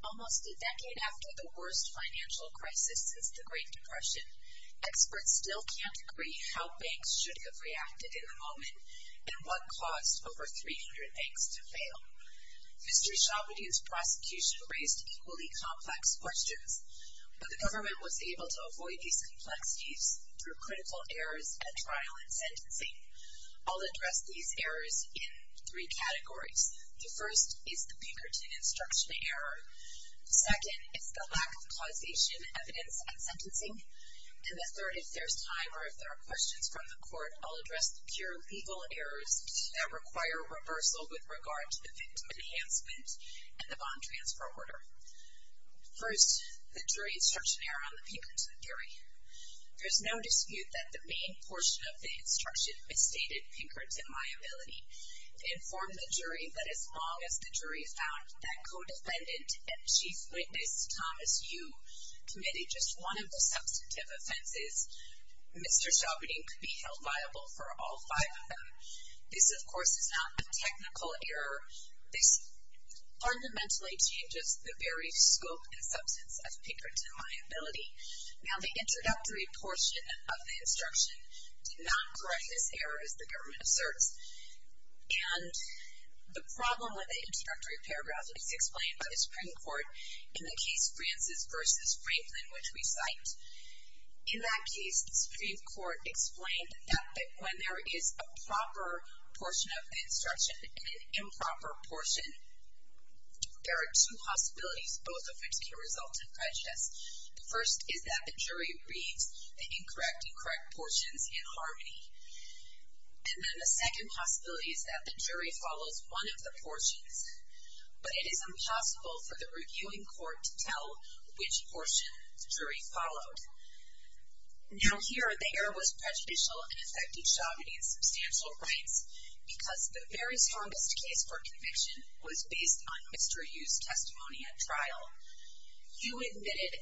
Almost a decade after the worst financial crisis since the Great Depression, experts still can't agree how banks should have reacted in the moment and what caused over 300 banks to fail. Mr. Shabudin's prosecution raised equally complex questions, but the government was able to avoid these complexities through critical errors at trial and sentencing. I'll address these errors in three categories. The first is the Pinkerton Instruction Error, the second is the Lack of Causation Evidence at Sentencing, and the third, if there's time or if there are questions from the court, I'll address the pure legal errors that require reversal with regard to the victim enhancement and the bond transfer order. First, the Jury Instruction Error on the Pinkerton Theory. There's no dispute that the main portion of the instruction misstated Pinkerton liability to inform the jury, but as long as the jury found that co-defendant and Chief Witness Thomas Yu committed just one of the substantive offenses, Mr. Shabudin could be held viable for all five of them. This, of course, is not a technical error. This fundamentally changes the very scope and substance of Pinkerton liability. Now, the introductory portion of the instruction did not correct this error, as the government asserts, and the problem with the introductory paragraph is explained by the Supreme Court in the case Francis v. Franklin, which we cite. In that case, the Supreme Court explained that when there is a proper portion of the instruction and an improper portion, there are two possibilities both of which can result in prejudice. The first is that the jury reads the incorrect, incorrect portions in harmony, and then the second possibility is that the jury follows one of the portions, but it is impossible for the reviewing court to tell which portion the jury followed. Now, here the error was prejudicial and affected Shabudin's substantial rights because the very strongest case for conviction was based on Mr. Yu's testimony at trial. Yu admitted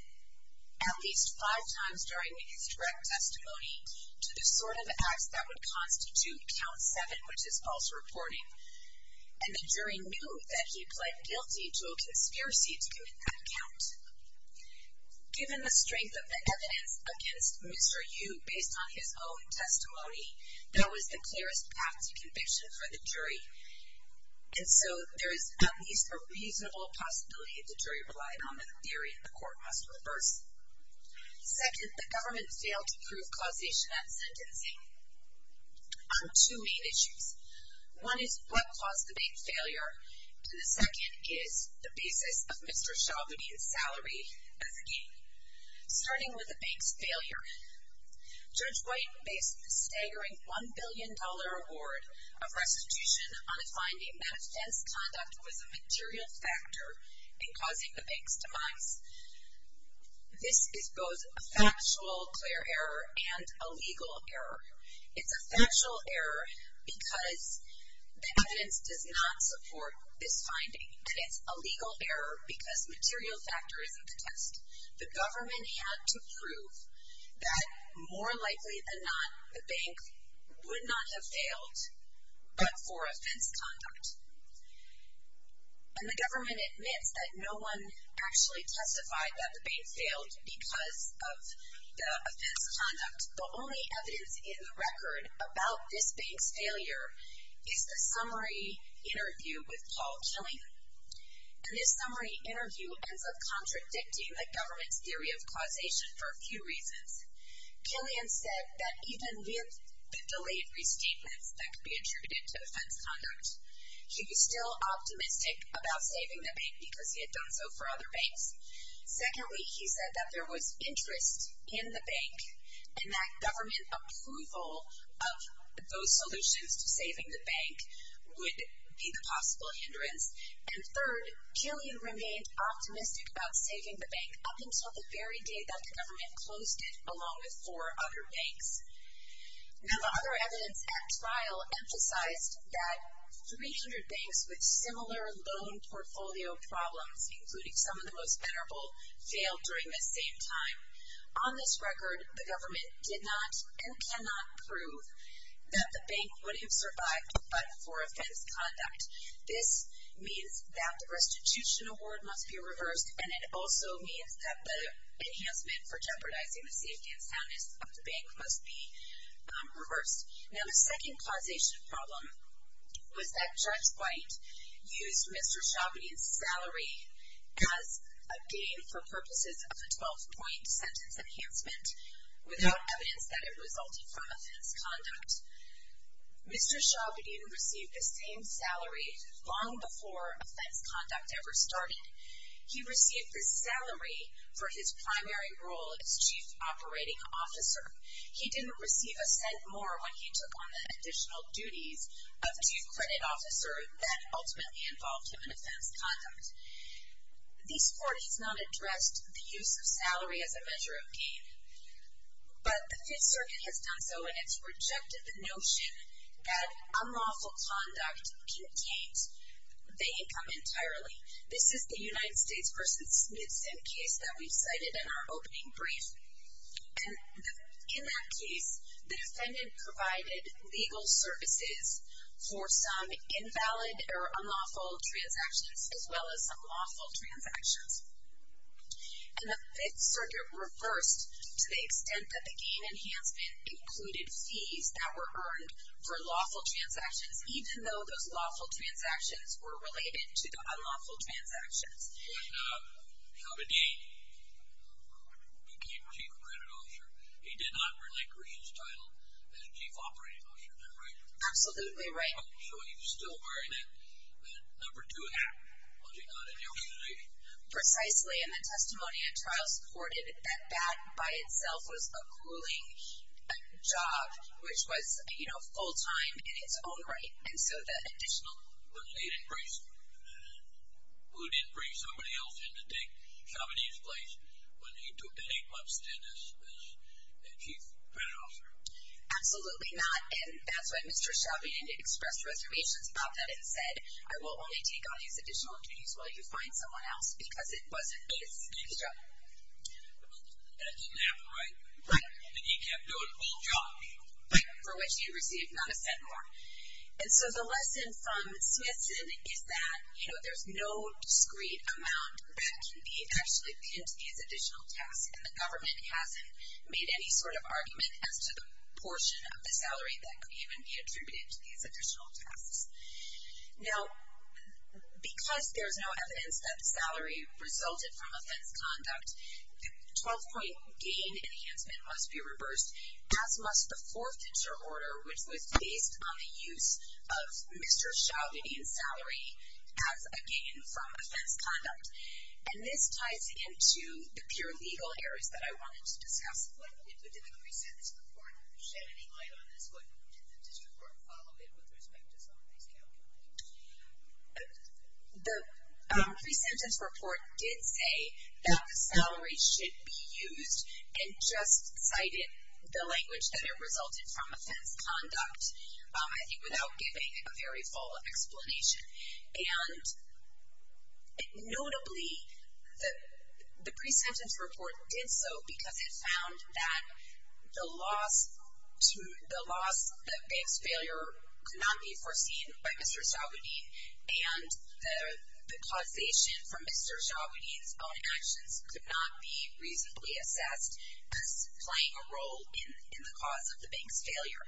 at least five times during his direct testimony to the sort of acts that would constitute count seven, which is false reporting, and the jury knew that he pled guilty to a conspiracy to commit that count. Given the strength of the evidence against Mr. Yu based on his own testimony, there was the clearest path to conviction for the jury, and so there is at least a reasonable possibility the jury relied on the theory and the court must reverse. On two main issues, one is what caused the bank's failure, and the second is the basis of Mr. Shabudin's salary as a gain. Starting with the bank's failure, Judge White based the staggering $1 billion award of restitution on a finding that offense conduct was a material factor in causing the bank's demise. This is both a factual clear error and a legal error. It's a factual error because the evidence does not support this finding, and it's a legal error because material factor isn't the test. The government had to prove that more likely than not, the bank would not have failed but for offense conduct. And the government admits that no one actually testified that the bank failed because of the offense conduct. The only evidence in the record about this bank's failure is the summary interview with Paul Killian, and this summary interview ends up contradicting the government's theory of causation for a few reasons. Killian said that even with the delayed restatements that could be attributed to offense conduct, he was still optimistic about saving the bank because he had done so for other banks. Secondly, he said that there was interest in the bank and that government approval of those solutions to saving the bank would be the possible hindrance. And third, Killian remained optimistic about saving the bank up until the very day that the government closed it along with four other banks. Now the other evidence at trial emphasized that 300 banks with similar loan portfolio problems, including some of the most venerable, failed during the same time. On this record, the government did not and cannot prove that the bank would have survived but for offense conduct. This means that the restitution award must be reversed, and it also means that the enhancement for jeopardizing the safety and soundness of the bank must be reversed. Now the second causation problem was that Judge White used Mr. Chabadin's salary as a gain for purposes of a 12-point sentence enhancement without evidence that it resulted from offense conduct. Mr. Chabadin received the same salary long before offense conduct ever started. He received this salary for his primary role as Chief Operating Officer. He didn't receive a cent more when he took on the additional duties of Chief Credit Officer that ultimately involved him in offense conduct. These courtesies not addressed the use of salary as a measure of gain, but the Fifth Circuit has done so and it's rejected the notion that unlawful conduct contains the income entirely. This is the United States v. Smithson case that we cited in our opening brief. And in that case, the defendant provided legal services for some invalid or unlawful transactions as well as some lawful transactions. And the Fifth Circuit reversed to the extent that the gain enhancement included fees that were earned for lawful transactions even though those lawful transactions were related to the unlawful transactions. Mr. Chabadin became Chief Credit Officer. He did not relate Greene's title as Chief Operating Officer, is that right? Absolutely right. So he was still wearing that number two hat, was he not, in your position? Precisely. In the testimony, a trial supported that that by itself was a grueling job which was, you know, full-time in its own right. And so the additional would be increased. Who didn't bring somebody else in to take Chabadin's place when he took that eight-month stint as Chief Credit Officer? Absolutely not. And that's why Mr. Chabadin expressed reservations about that and said, I will only take on these additional duties while you find someone else because it wasn't his job. That didn't happen, right? Right. And he kept doing the full job. Right, for which he received not a cent more. And so the lesson from Smithson is that, you know, there's no discrete amount that can be actually pinned to these additional tasks. And the government hasn't made any sort of argument as to the portion of the salary that could even be attributed to these additional tasks. Now, because there's no evidence that the salary resulted from offense conduct, the 12-point gain enhancement must be reversed, as must the fourth interorder, which was based on the use of Mr. Chabadin's salary as a gain from offense conduct. And this ties into the pure legal areas that I wanted to discuss. What did the pre-sentence report shed any light on this? What did the district court follow it with respect to some of these calculations? The pre-sentence report did say that the salary should be used and just cited the language that it resulted from offense conduct, I think without giving a very full explanation. And notably, the pre-sentence report did so because it found that the loss to the bank's failure could not be foreseen by Mr. Chabadin and the causation from Mr. Chabadin's own actions could not be reasonably assessed as playing a role in the cause of the bank's failure.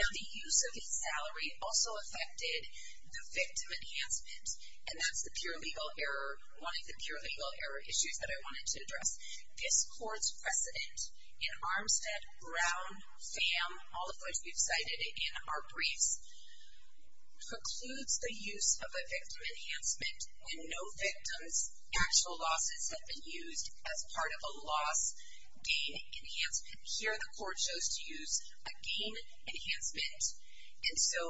Now, the use of his salary also affected the victim enhancement, and that's the pure legal error, one of the pure legal error issues that I wanted to address. This court's precedent in Armstead, Brown, Pham, all of which we've cited in our briefs, includes the use of a victim enhancement when no victim's actual losses have been used as part of a loss gain enhancement. Here, the court chose to use a gain enhancement. And so,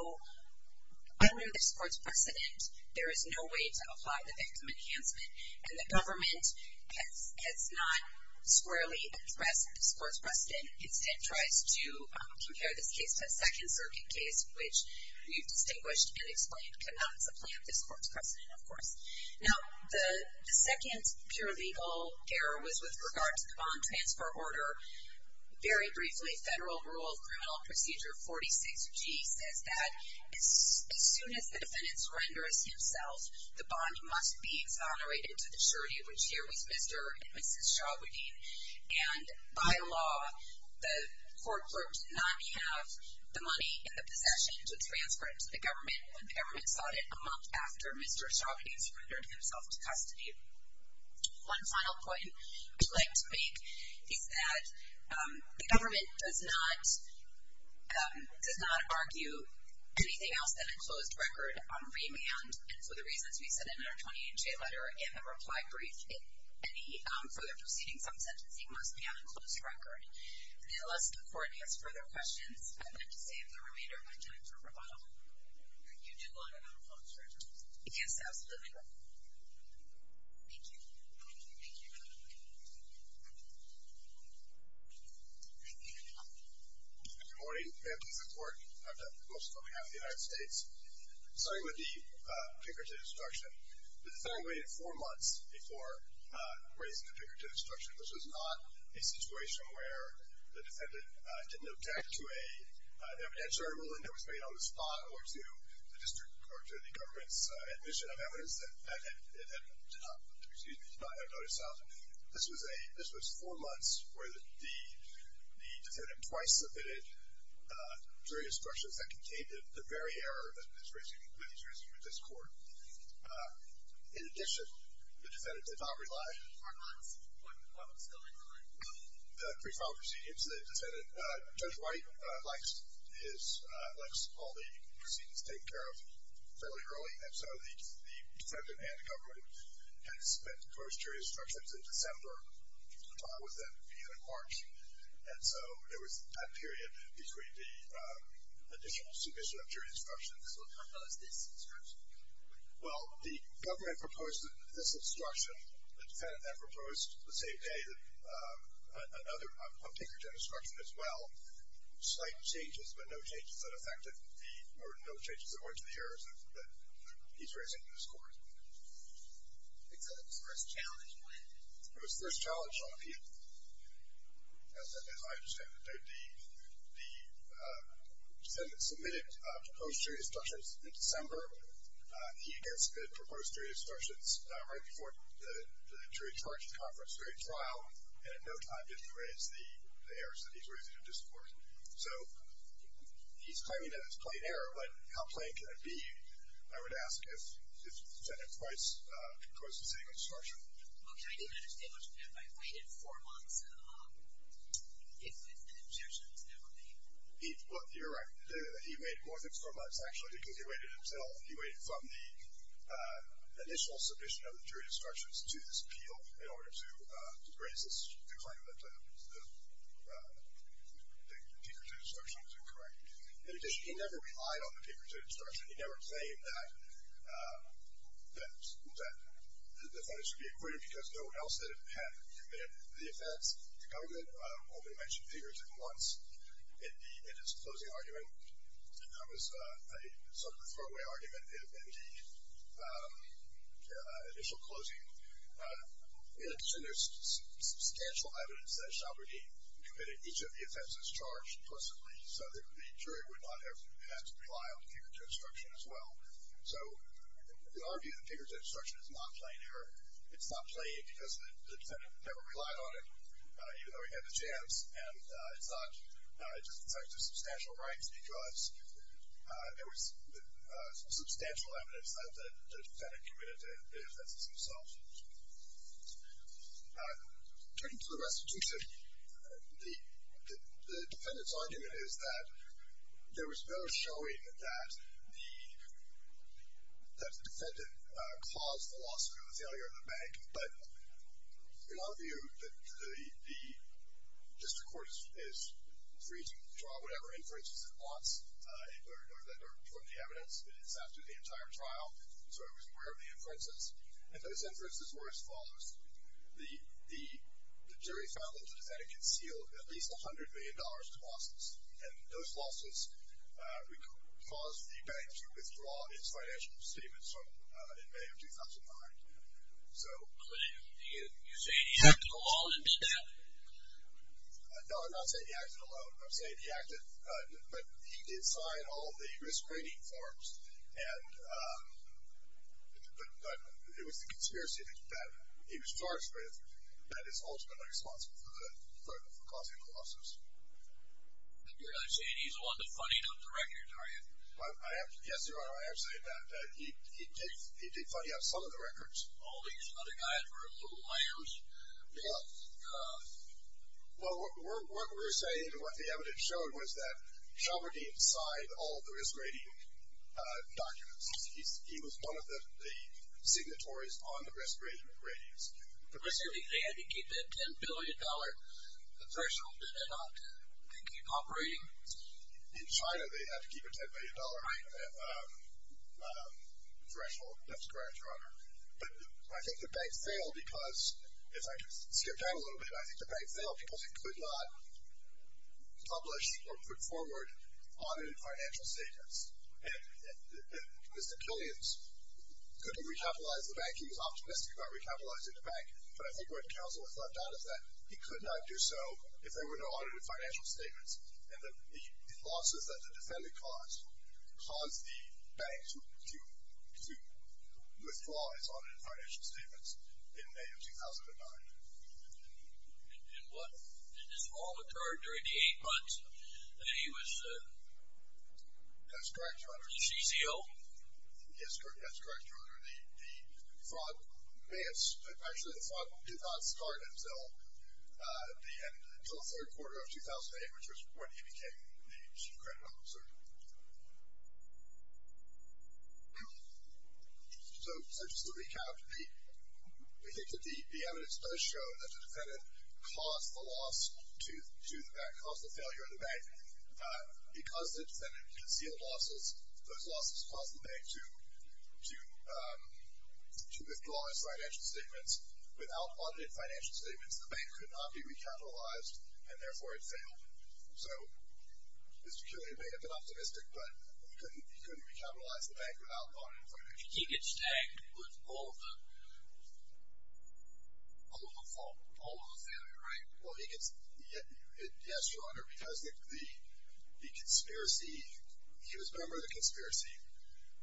under this court's precedent, there is no way to apply the victim enhancement. And the government has not squarely addressed this court's precedent. The government, instead, tries to compare this case to a Second Circuit case, which we've distinguished and explained cannot supplant this court's precedent, of course. Now, the second pure legal error was with regard to the bond transfer order. Very briefly, Federal Rule of Criminal Procedure 46G says that as soon as the defendant surrenders himself, the bond must be exonerated to the surety of which here was Mr. and Mrs. Chabadin. And by law, the court clerk did not have the money in the possession to transfer it to the government when the government sought it a month after Mr. Chabadin surrendered himself to custody. One final point I'd like to make is that the government does not argue anything else than a closed record remand. And for the reasons we said in our 28-J letter and the reply brief, any further proceedings on sentencing must be on a closed record. And unless the court has further questions, I'd like to save the remainder of my time for rebuttal. You do want it on a closed record? Yes, absolutely. Thank you. Thank you. Thank you. Thank you. Good morning. May it please the court. Dr. Wilson, on behalf of the United States. Starting with the trigger to destruction. The defendant waited four months before raising the trigger to destruction, which was not a situation where the defendant didn't object to an evidentiary ruling that was made on the spot or to the district or to the government's admission of evidence that it had not, excuse me, not had noticed something. This was four months where the defendant twice submitted jury instructions that contained the very error that he's raising with this court. In addition, the defendant did not rely. Four months. What was going on? The pre-trial proceedings, the defendant, Judge White, likes all the proceedings taken care of fairly early. And so the defendant and the government had to submit jury instructions in December. The time with them being in March. And so there was that period between the additional submission of jury instructions. So how about this instruction? Well, the government proposed this instruction. The defendant then proposed the same day another trigger to destruction as well. Slight changes, but no changes that affected the, or no changes that went to the errors that he's raising in this court. Because it was first challenged when? It was first challenged on appeal. As I understand it, the defendant submitted proposed jury instructions in December. He again submitted proposed jury instructions right before the jury charge conference jury trial. And at no time did he raise the errors that he's raising in this court. So he's claiming that it's plain error, but how plain can it be? I would ask if the defendant twice proposed the same instruction. Okay, I didn't understand much of that. I waited four months. If it's an objection, it's never made. Well, you're right. He waited more than four months, actually, because he waited until, he waited from the initial submission of the jury instructions to this appeal in order to raise the claim that the paper-to-destruction was incorrect. In addition, he never relied on the paper-to-destruction. He never claimed that the defendants should be acquitted because no one else had committed the offense. The government only mentioned figures at once in its closing argument. It was a sort of a throwaway argument in the initial closing. And there's substantial evidence that Chabrini committed each of the offenses charged implicitly so the jury would not have had to rely on the paper-to-destruction as well. So in our view, the paper-to-destruction is not plain error. It's not plain because the defendant never relied on it, even though he had the chance. And it's not, it's just in terms of substantial rights because there was some substantial evidence that the defendant committed the offenses himself. Turning to the restitution, the defendant's argument is that there was no showing that the defendant caused the loss or the failure of the bank. But in our view, the district court is free to draw whatever inferences it wants or that are from the evidence that is after the entire trial. So it was aware of the inferences. And those inferences were as follows. The jury found that the defendant concealed at least $100 million in losses. And those losses caused the bank to withdraw its financial statements in May of 2009. But you're saying he acted alone and did that? No, I'm not saying he acted alone. I'm saying he acted, but he did sign all of the risk rating forms. But it was the conspiracy that he was charged with that is ultimately responsible for causing the losses. You're not saying he's the one that funny-noted the records, are you? Yes, Your Honor, I am saying that. He did funny-up some of the records. All these other guys were little lambs? Well, what we're saying, what the evidence showed, was that Schaubergine signed all of the risk rating documents. He was one of the signatories on the risk rating ratings. But basically, they had to keep that $10 billion threshold in order to keep operating? In China, they had to keep a $10 billion threshold. That's correct, Your Honor. But I think the bank failed because, if I can skip down a little bit, I think the bank failed because it could not publish or put forward audited financial statements. And Mr. Killians couldn't recapitalize the bank. He was optimistic about recapitalizing the bank. But I think what counsel has left out is that he could not do so if there were no audited financial statements. And the losses that the defendant caused caused the bank to withdraw its audited financial statements in May of 2009. And this all occurred during the eight months that he was a CCO? That's correct, Your Honor. Yes, that's correct, Your Honor. Actually, the fraud did not start until the end, until the third quarter of 2008, which was when he became the chief credit officer. So just to recap, we think that the evidence does show that the defendant caused the loss to the bank, caused the failure of the bank. Because the defendant concealed losses, those losses caused the bank to withdraw its financial statements. Without audited financial statements, the bank could not be recapitalized, and therefore it failed. So Mr. Killian may have been optimistic, but he couldn't recapitalize the bank without audited financial statements. He gets tagged with all of the failure, right? Well, yes, Your Honor, because he was a member of the conspiracy.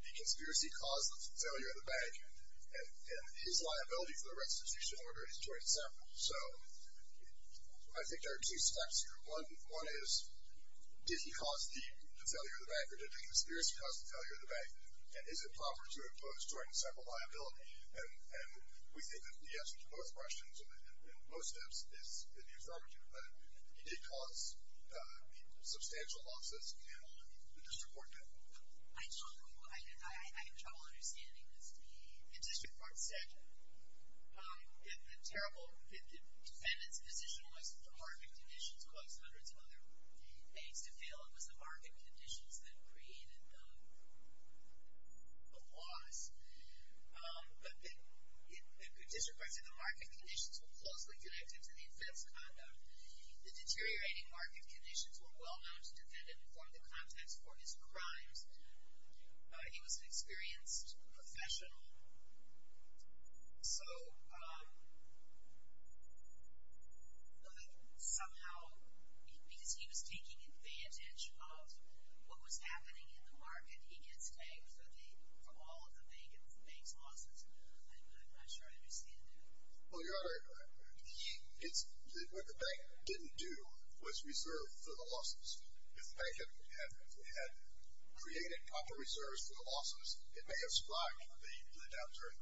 The conspiracy caused the failure of the bank, and his liability for the restitution order is 27. So I think there are two steps here. One is, did he cause the failure of the bank, or did the conspiracy cause the failure of the bank? And is it proper to impose joint and separate liability? And we think that the answer to both questions, in most steps, is in the affirmative. But he did cause substantial losses in the district court case. I don't know. I have trouble understanding this. The district court said that the defendant's position was the market conditions caused hundreds of other banks to fail. It was the market conditions that created the loss. But the district court said the market conditions were closely connected to the offense conduct. The deteriorating market conditions were well known to the defendant and formed the context for his crimes. He was an experienced professional. So, somehow, because he was taking advantage of what was happening in the market, he gets tagged for all of the bank's losses. I'm not sure I understand that. Well, you're right about that. What the bank didn't do was reserve for the losses. If the bank had created proper reserves for the losses, it may have survived the downturn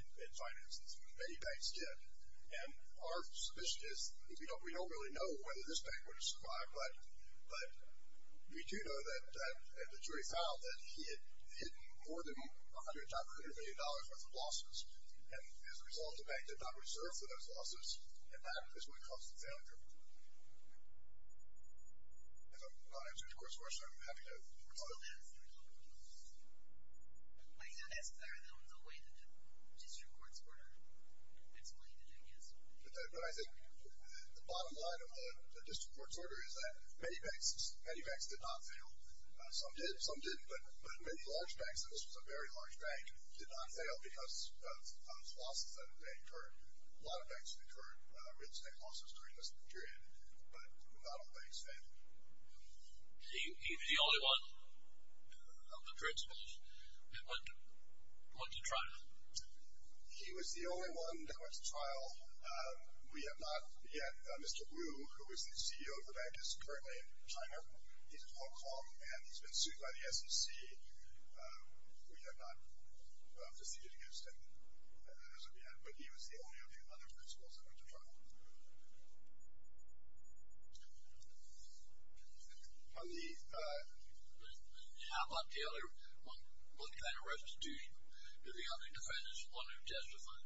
in finances. Many banks did. And our suspicion is we don't really know whether this bank would have survived. But we do know that the jury found that he had hidden more than $100 million worth of losses. And as a result, the bank did not reserve for those losses. And that is what caused the failure. If I'm not answering the court's question, I'm sorry, I'm having a hard time. I'm not as clear, though, in the way that the district court's order explained it, I guess. But I think the bottom line of the district court's order is that many banks did not fail. Some did, some didn't. But many large banks, and this was a very large bank, did not fail because of losses that had occurred. A lot of banks had incurred real estate losses during this period. But not all banks failed. He was the only one of the principals that went to trial. He was the only one that went to trial. We have not yet. Mr. Wu, who is the CEO of the bank, is currently in China. He's in Hong Kong, and he's been sued by the SEC. We have not proceeded against him as of yet. But he was the only of the other principals that went to trial. On the... How about the other... What kind of restitution? Do the other defendants want to testify?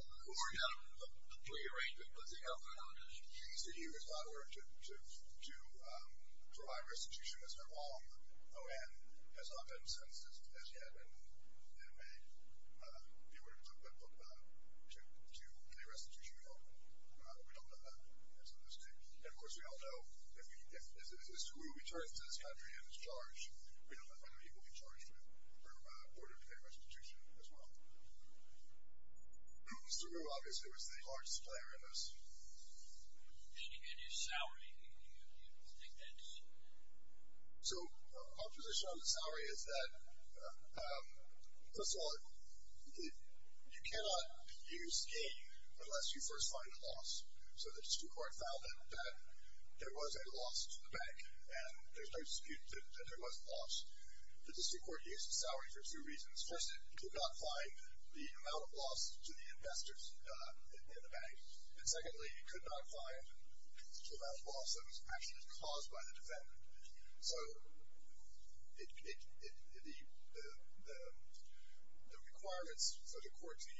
We worked out a plea arrangement, but the other... He's the CEO. He's not aware to provide restitution. That's not all. The O.N. has not been sentenced as yet. to any restitution we hold. Mr. Wu. Mr. Wu. We don't know that. And, of course, we all know if Mr. Wu returns to this country and is charged, we don't know whether he will be charged for order to pay restitution as well. Mr. Wu, obviously, was the largest player in this. Can you get his salary? Do you think that's... So, our position on the salary is that... First of all, you cannot use gain unless you first find a loss. So, the district court found that there was a loss to the bank and there's no dispute that there was a loss. The district court used the salary for two reasons. First, it could not find the amount of loss to the investors in the bank. And, secondly, it could not find the amount of loss that was actually caused by the defendant. So, the requirements for the court to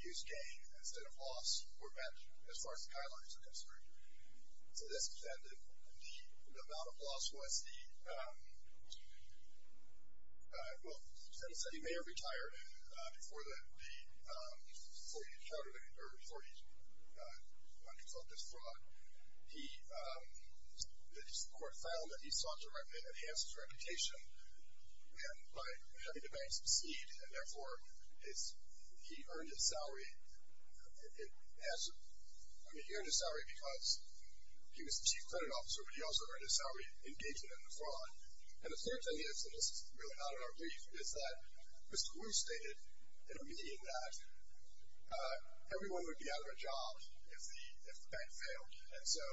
use gain instead of loss were met as far as the guidelines were concerned. So, this defendant, the amount of loss was the... Well, the defendant said he may have retired before he encountered or before he thought this fraud. The court found that he sought to enhance his reputation by having the bank succeed and, therefore, he earned his salary because he was the chief credit officer but he also earned his salary engaging in the fraud. And the third thing is, and this is really not in our brief, is that Mr. Wu stated in a meeting that everyone would be out of a job if the bank failed. And so,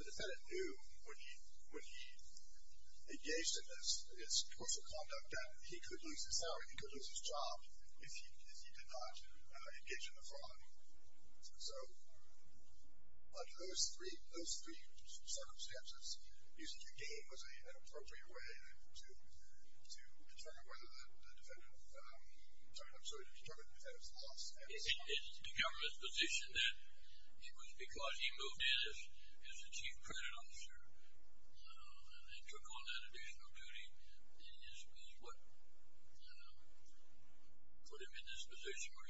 the defendant knew when he engaged in this social conduct that he could lose his salary, he could lose his job if he did not engage in the fraud. So, under those three circumstances, using the gain was an appropriate way to determine whether the defendant... I'm sorry, to determine the defendant's loss. It's the government's position that it was because he moved in as the chief credit officer and they took on that additional duty is what put him in this position where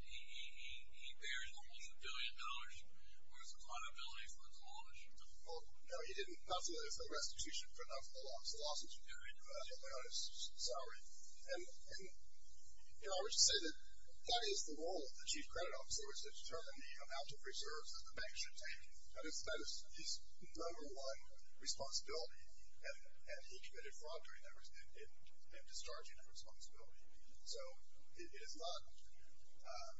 he bears almost a billion dollars worth of liability for the clause. Well, no, he didn't pass away for restitution, but not for the loss. He lost his salary. And, you know, I would say that that is the role of the chief credit officer, which is to determine the amount of reserves that the bank should take. That is his number one responsibility. And he committed fraud during that in discharging that responsibility. So, it is not wrong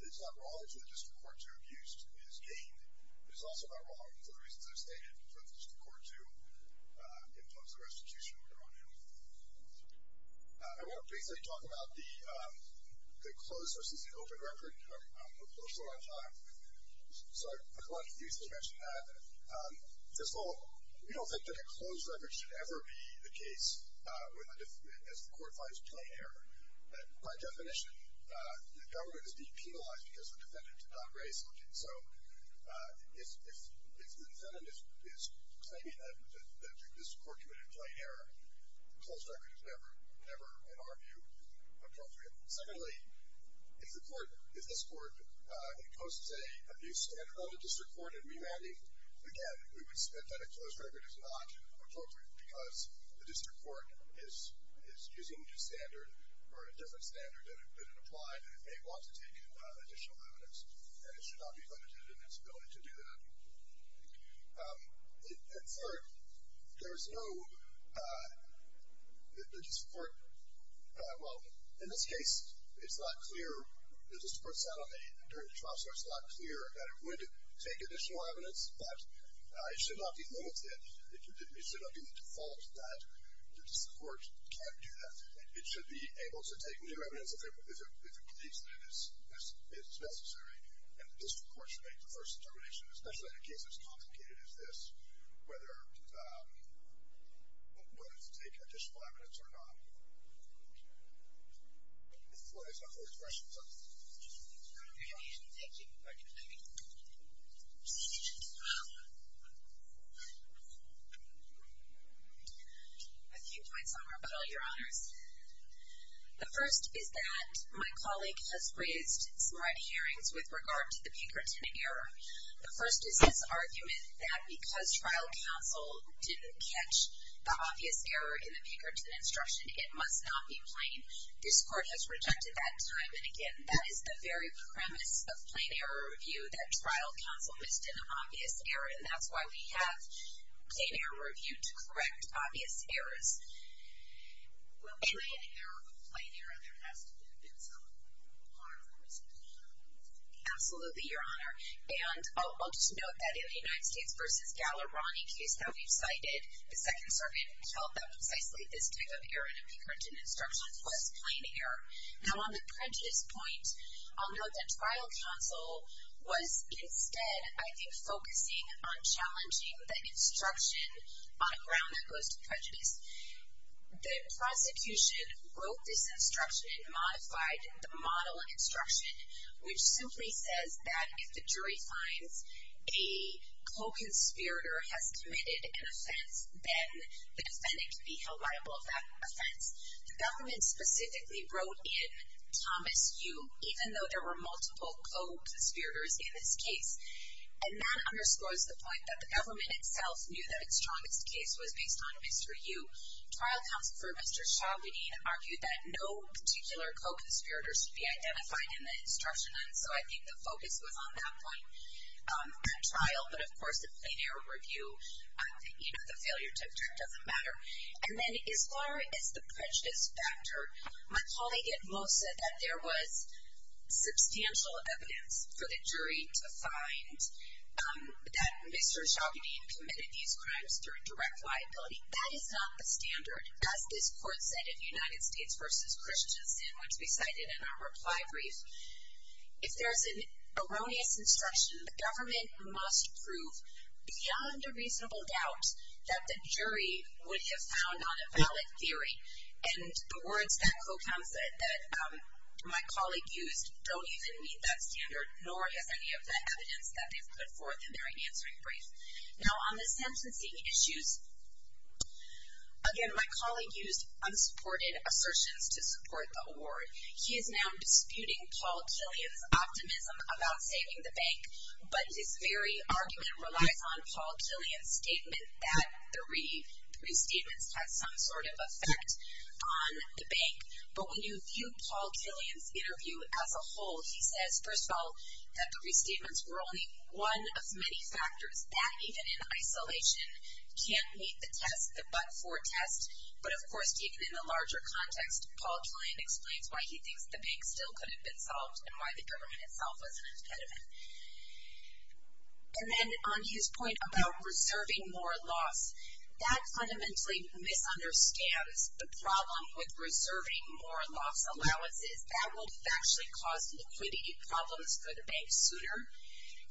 that District Court 2 abuse is gained. It is also not wrong, for the reasons I've stated, that the District Court 2 imposed the restitution on him. I want to basically talk about the closed versus the open record. I'm a little short on time, so I'm going to use to mention that. First of all, we don't think that a closed record should ever be the case as the court finds plain error. By definition, the government is being penalized because the defendant did not raise a lawsuit. So, if the defendant is claiming that this court committed plain error, a closed record is never, in our view, appropriate. Secondly, if the court, if this court, imposes a new standard on the District Court in remanding, again, we would submit that a closed record is not appropriate, because the District Court is using a new standard or a different standard than it applied, and it may want to take additional evidence. And it should not be limited in its ability to do that. And third, there's no, the District Court, well, in this case, it's not clear. The District Court said on the, during the trial, so it's not clear that it would take additional evidence, but it should not be limited. It should not be the default that the District Court can't do that. It should be able to take new evidence if it believes that it is necessary, and the District Court should make the first determination, especially in a case as complicated as this, whether it's taking additional evidence or not................ A few points on rebuttal, Your Honors. The first is that my colleague has raised some right hearings with regard to the Pinkerton error. The first is his argument that because trial counsel didn't catch the obvious error in the Pinkerton instruction, it must not be plain. This Court has rejected that time, and again, that is the very premise of plain error review, that trial counsel missed an obvious error, and that's why we have plain error review to correct obvious errors.......... Absolutely, Your Honor. And I'll just note that in the United States v. Gallerani case that we've cited, the Second Circuit felt that precisely this type of error in the Pinkerton instruction was plain error. Now, on the prejudice point, I'll note that trial counsel was instead, I think, focusing on challenging the instruction on a ground that goes to prejudice. The prosecution wrote this instruction and modified the model instruction, which simply says that if the jury finds a co-conspirator has committed an offense, then the defendant can be held liable for that offense. The government specifically wrote in Thomas U., even though there were multiple co-conspirators in this case, and that underscores the point that the government itself knew that its strongest case was based on Mr. U. Trial counsel for Mr. Chauvinine argued that no particular co-conspirator should be identified in the instruction, and so I think the focus was on that point at trial, but of course the plain error review, you know, the failure to object, doesn't matter. And then as far as the prejudice factor, my colleague at most said that there was substantial evidence for the jury to find that Mr. Chauvinine committed these crimes through direct liability. That is not the standard, as this court said in United States v. Christians, in which we cited in our reply brief. If there's an erroneous instruction, the government must prove, beyond a reasonable doubt, that the jury would have found on a valid theory. And the words that my colleague used don't even meet that standard, nor has any of the evidence that they've put forth in their answering brief. again, my colleague used unsupported assertions to support the award. He is now disputing Paul Killian's optimism about saving the bank, but his very argument relies on Paul Killian's statement that the restatements had some sort of effect on the bank. But when you view Paul Killian's interview as a whole, he says, first of all, that the restatements were only one of many factors that, even in isolation, can't meet the test, the but-for test. But of course, even in a larger context, Paul Killian explains why he thinks the bank still could have been solved and why the government itself was an impediment. And then on his point about reserving more loss, that fundamentally misunderstands the problem with reserving more loss allowances. That will actually cause liquidity problems for the bank sooner,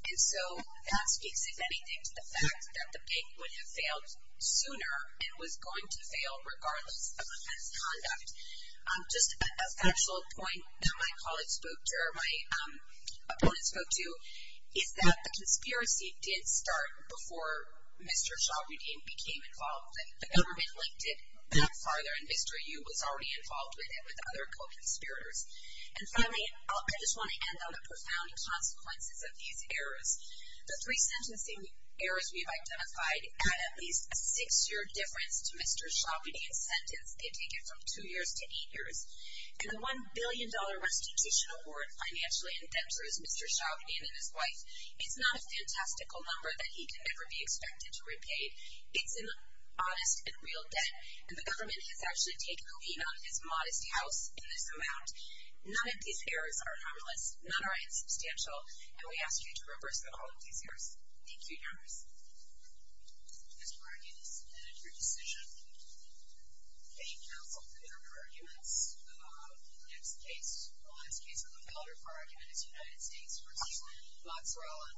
and so that speaks, if anything, to the fact that the bank would have failed sooner and was going to be left. Just a factual point that my opponent spoke to is that the conspiracy did start before Mr. Shahroudian became involved, and the government linked it that farther, and Mr. Yu was already involved with it with other co-conspirators. And finally, I just want to end on the profound consequences of these errors. The three sentencing errors we've identified add at least a six-year difference to two years to eight years. And the $1 billion restitution award financially in debt to Mr. Shahroudian and his wife, it's not a fantastical number that he can ever be expected to repay. It's an honest and real debt, and the government has actually taken a lean on his modest house in this amount. None of these errors are anomalous. None are insubstantial, and we ask you to reverse the call of these errors. Thank you, Your Honors. Ms. Martinez, your decision. Thank you, counsel, for your arguments. The next case, the last case of the counter-argument is United States v. Moxeralla.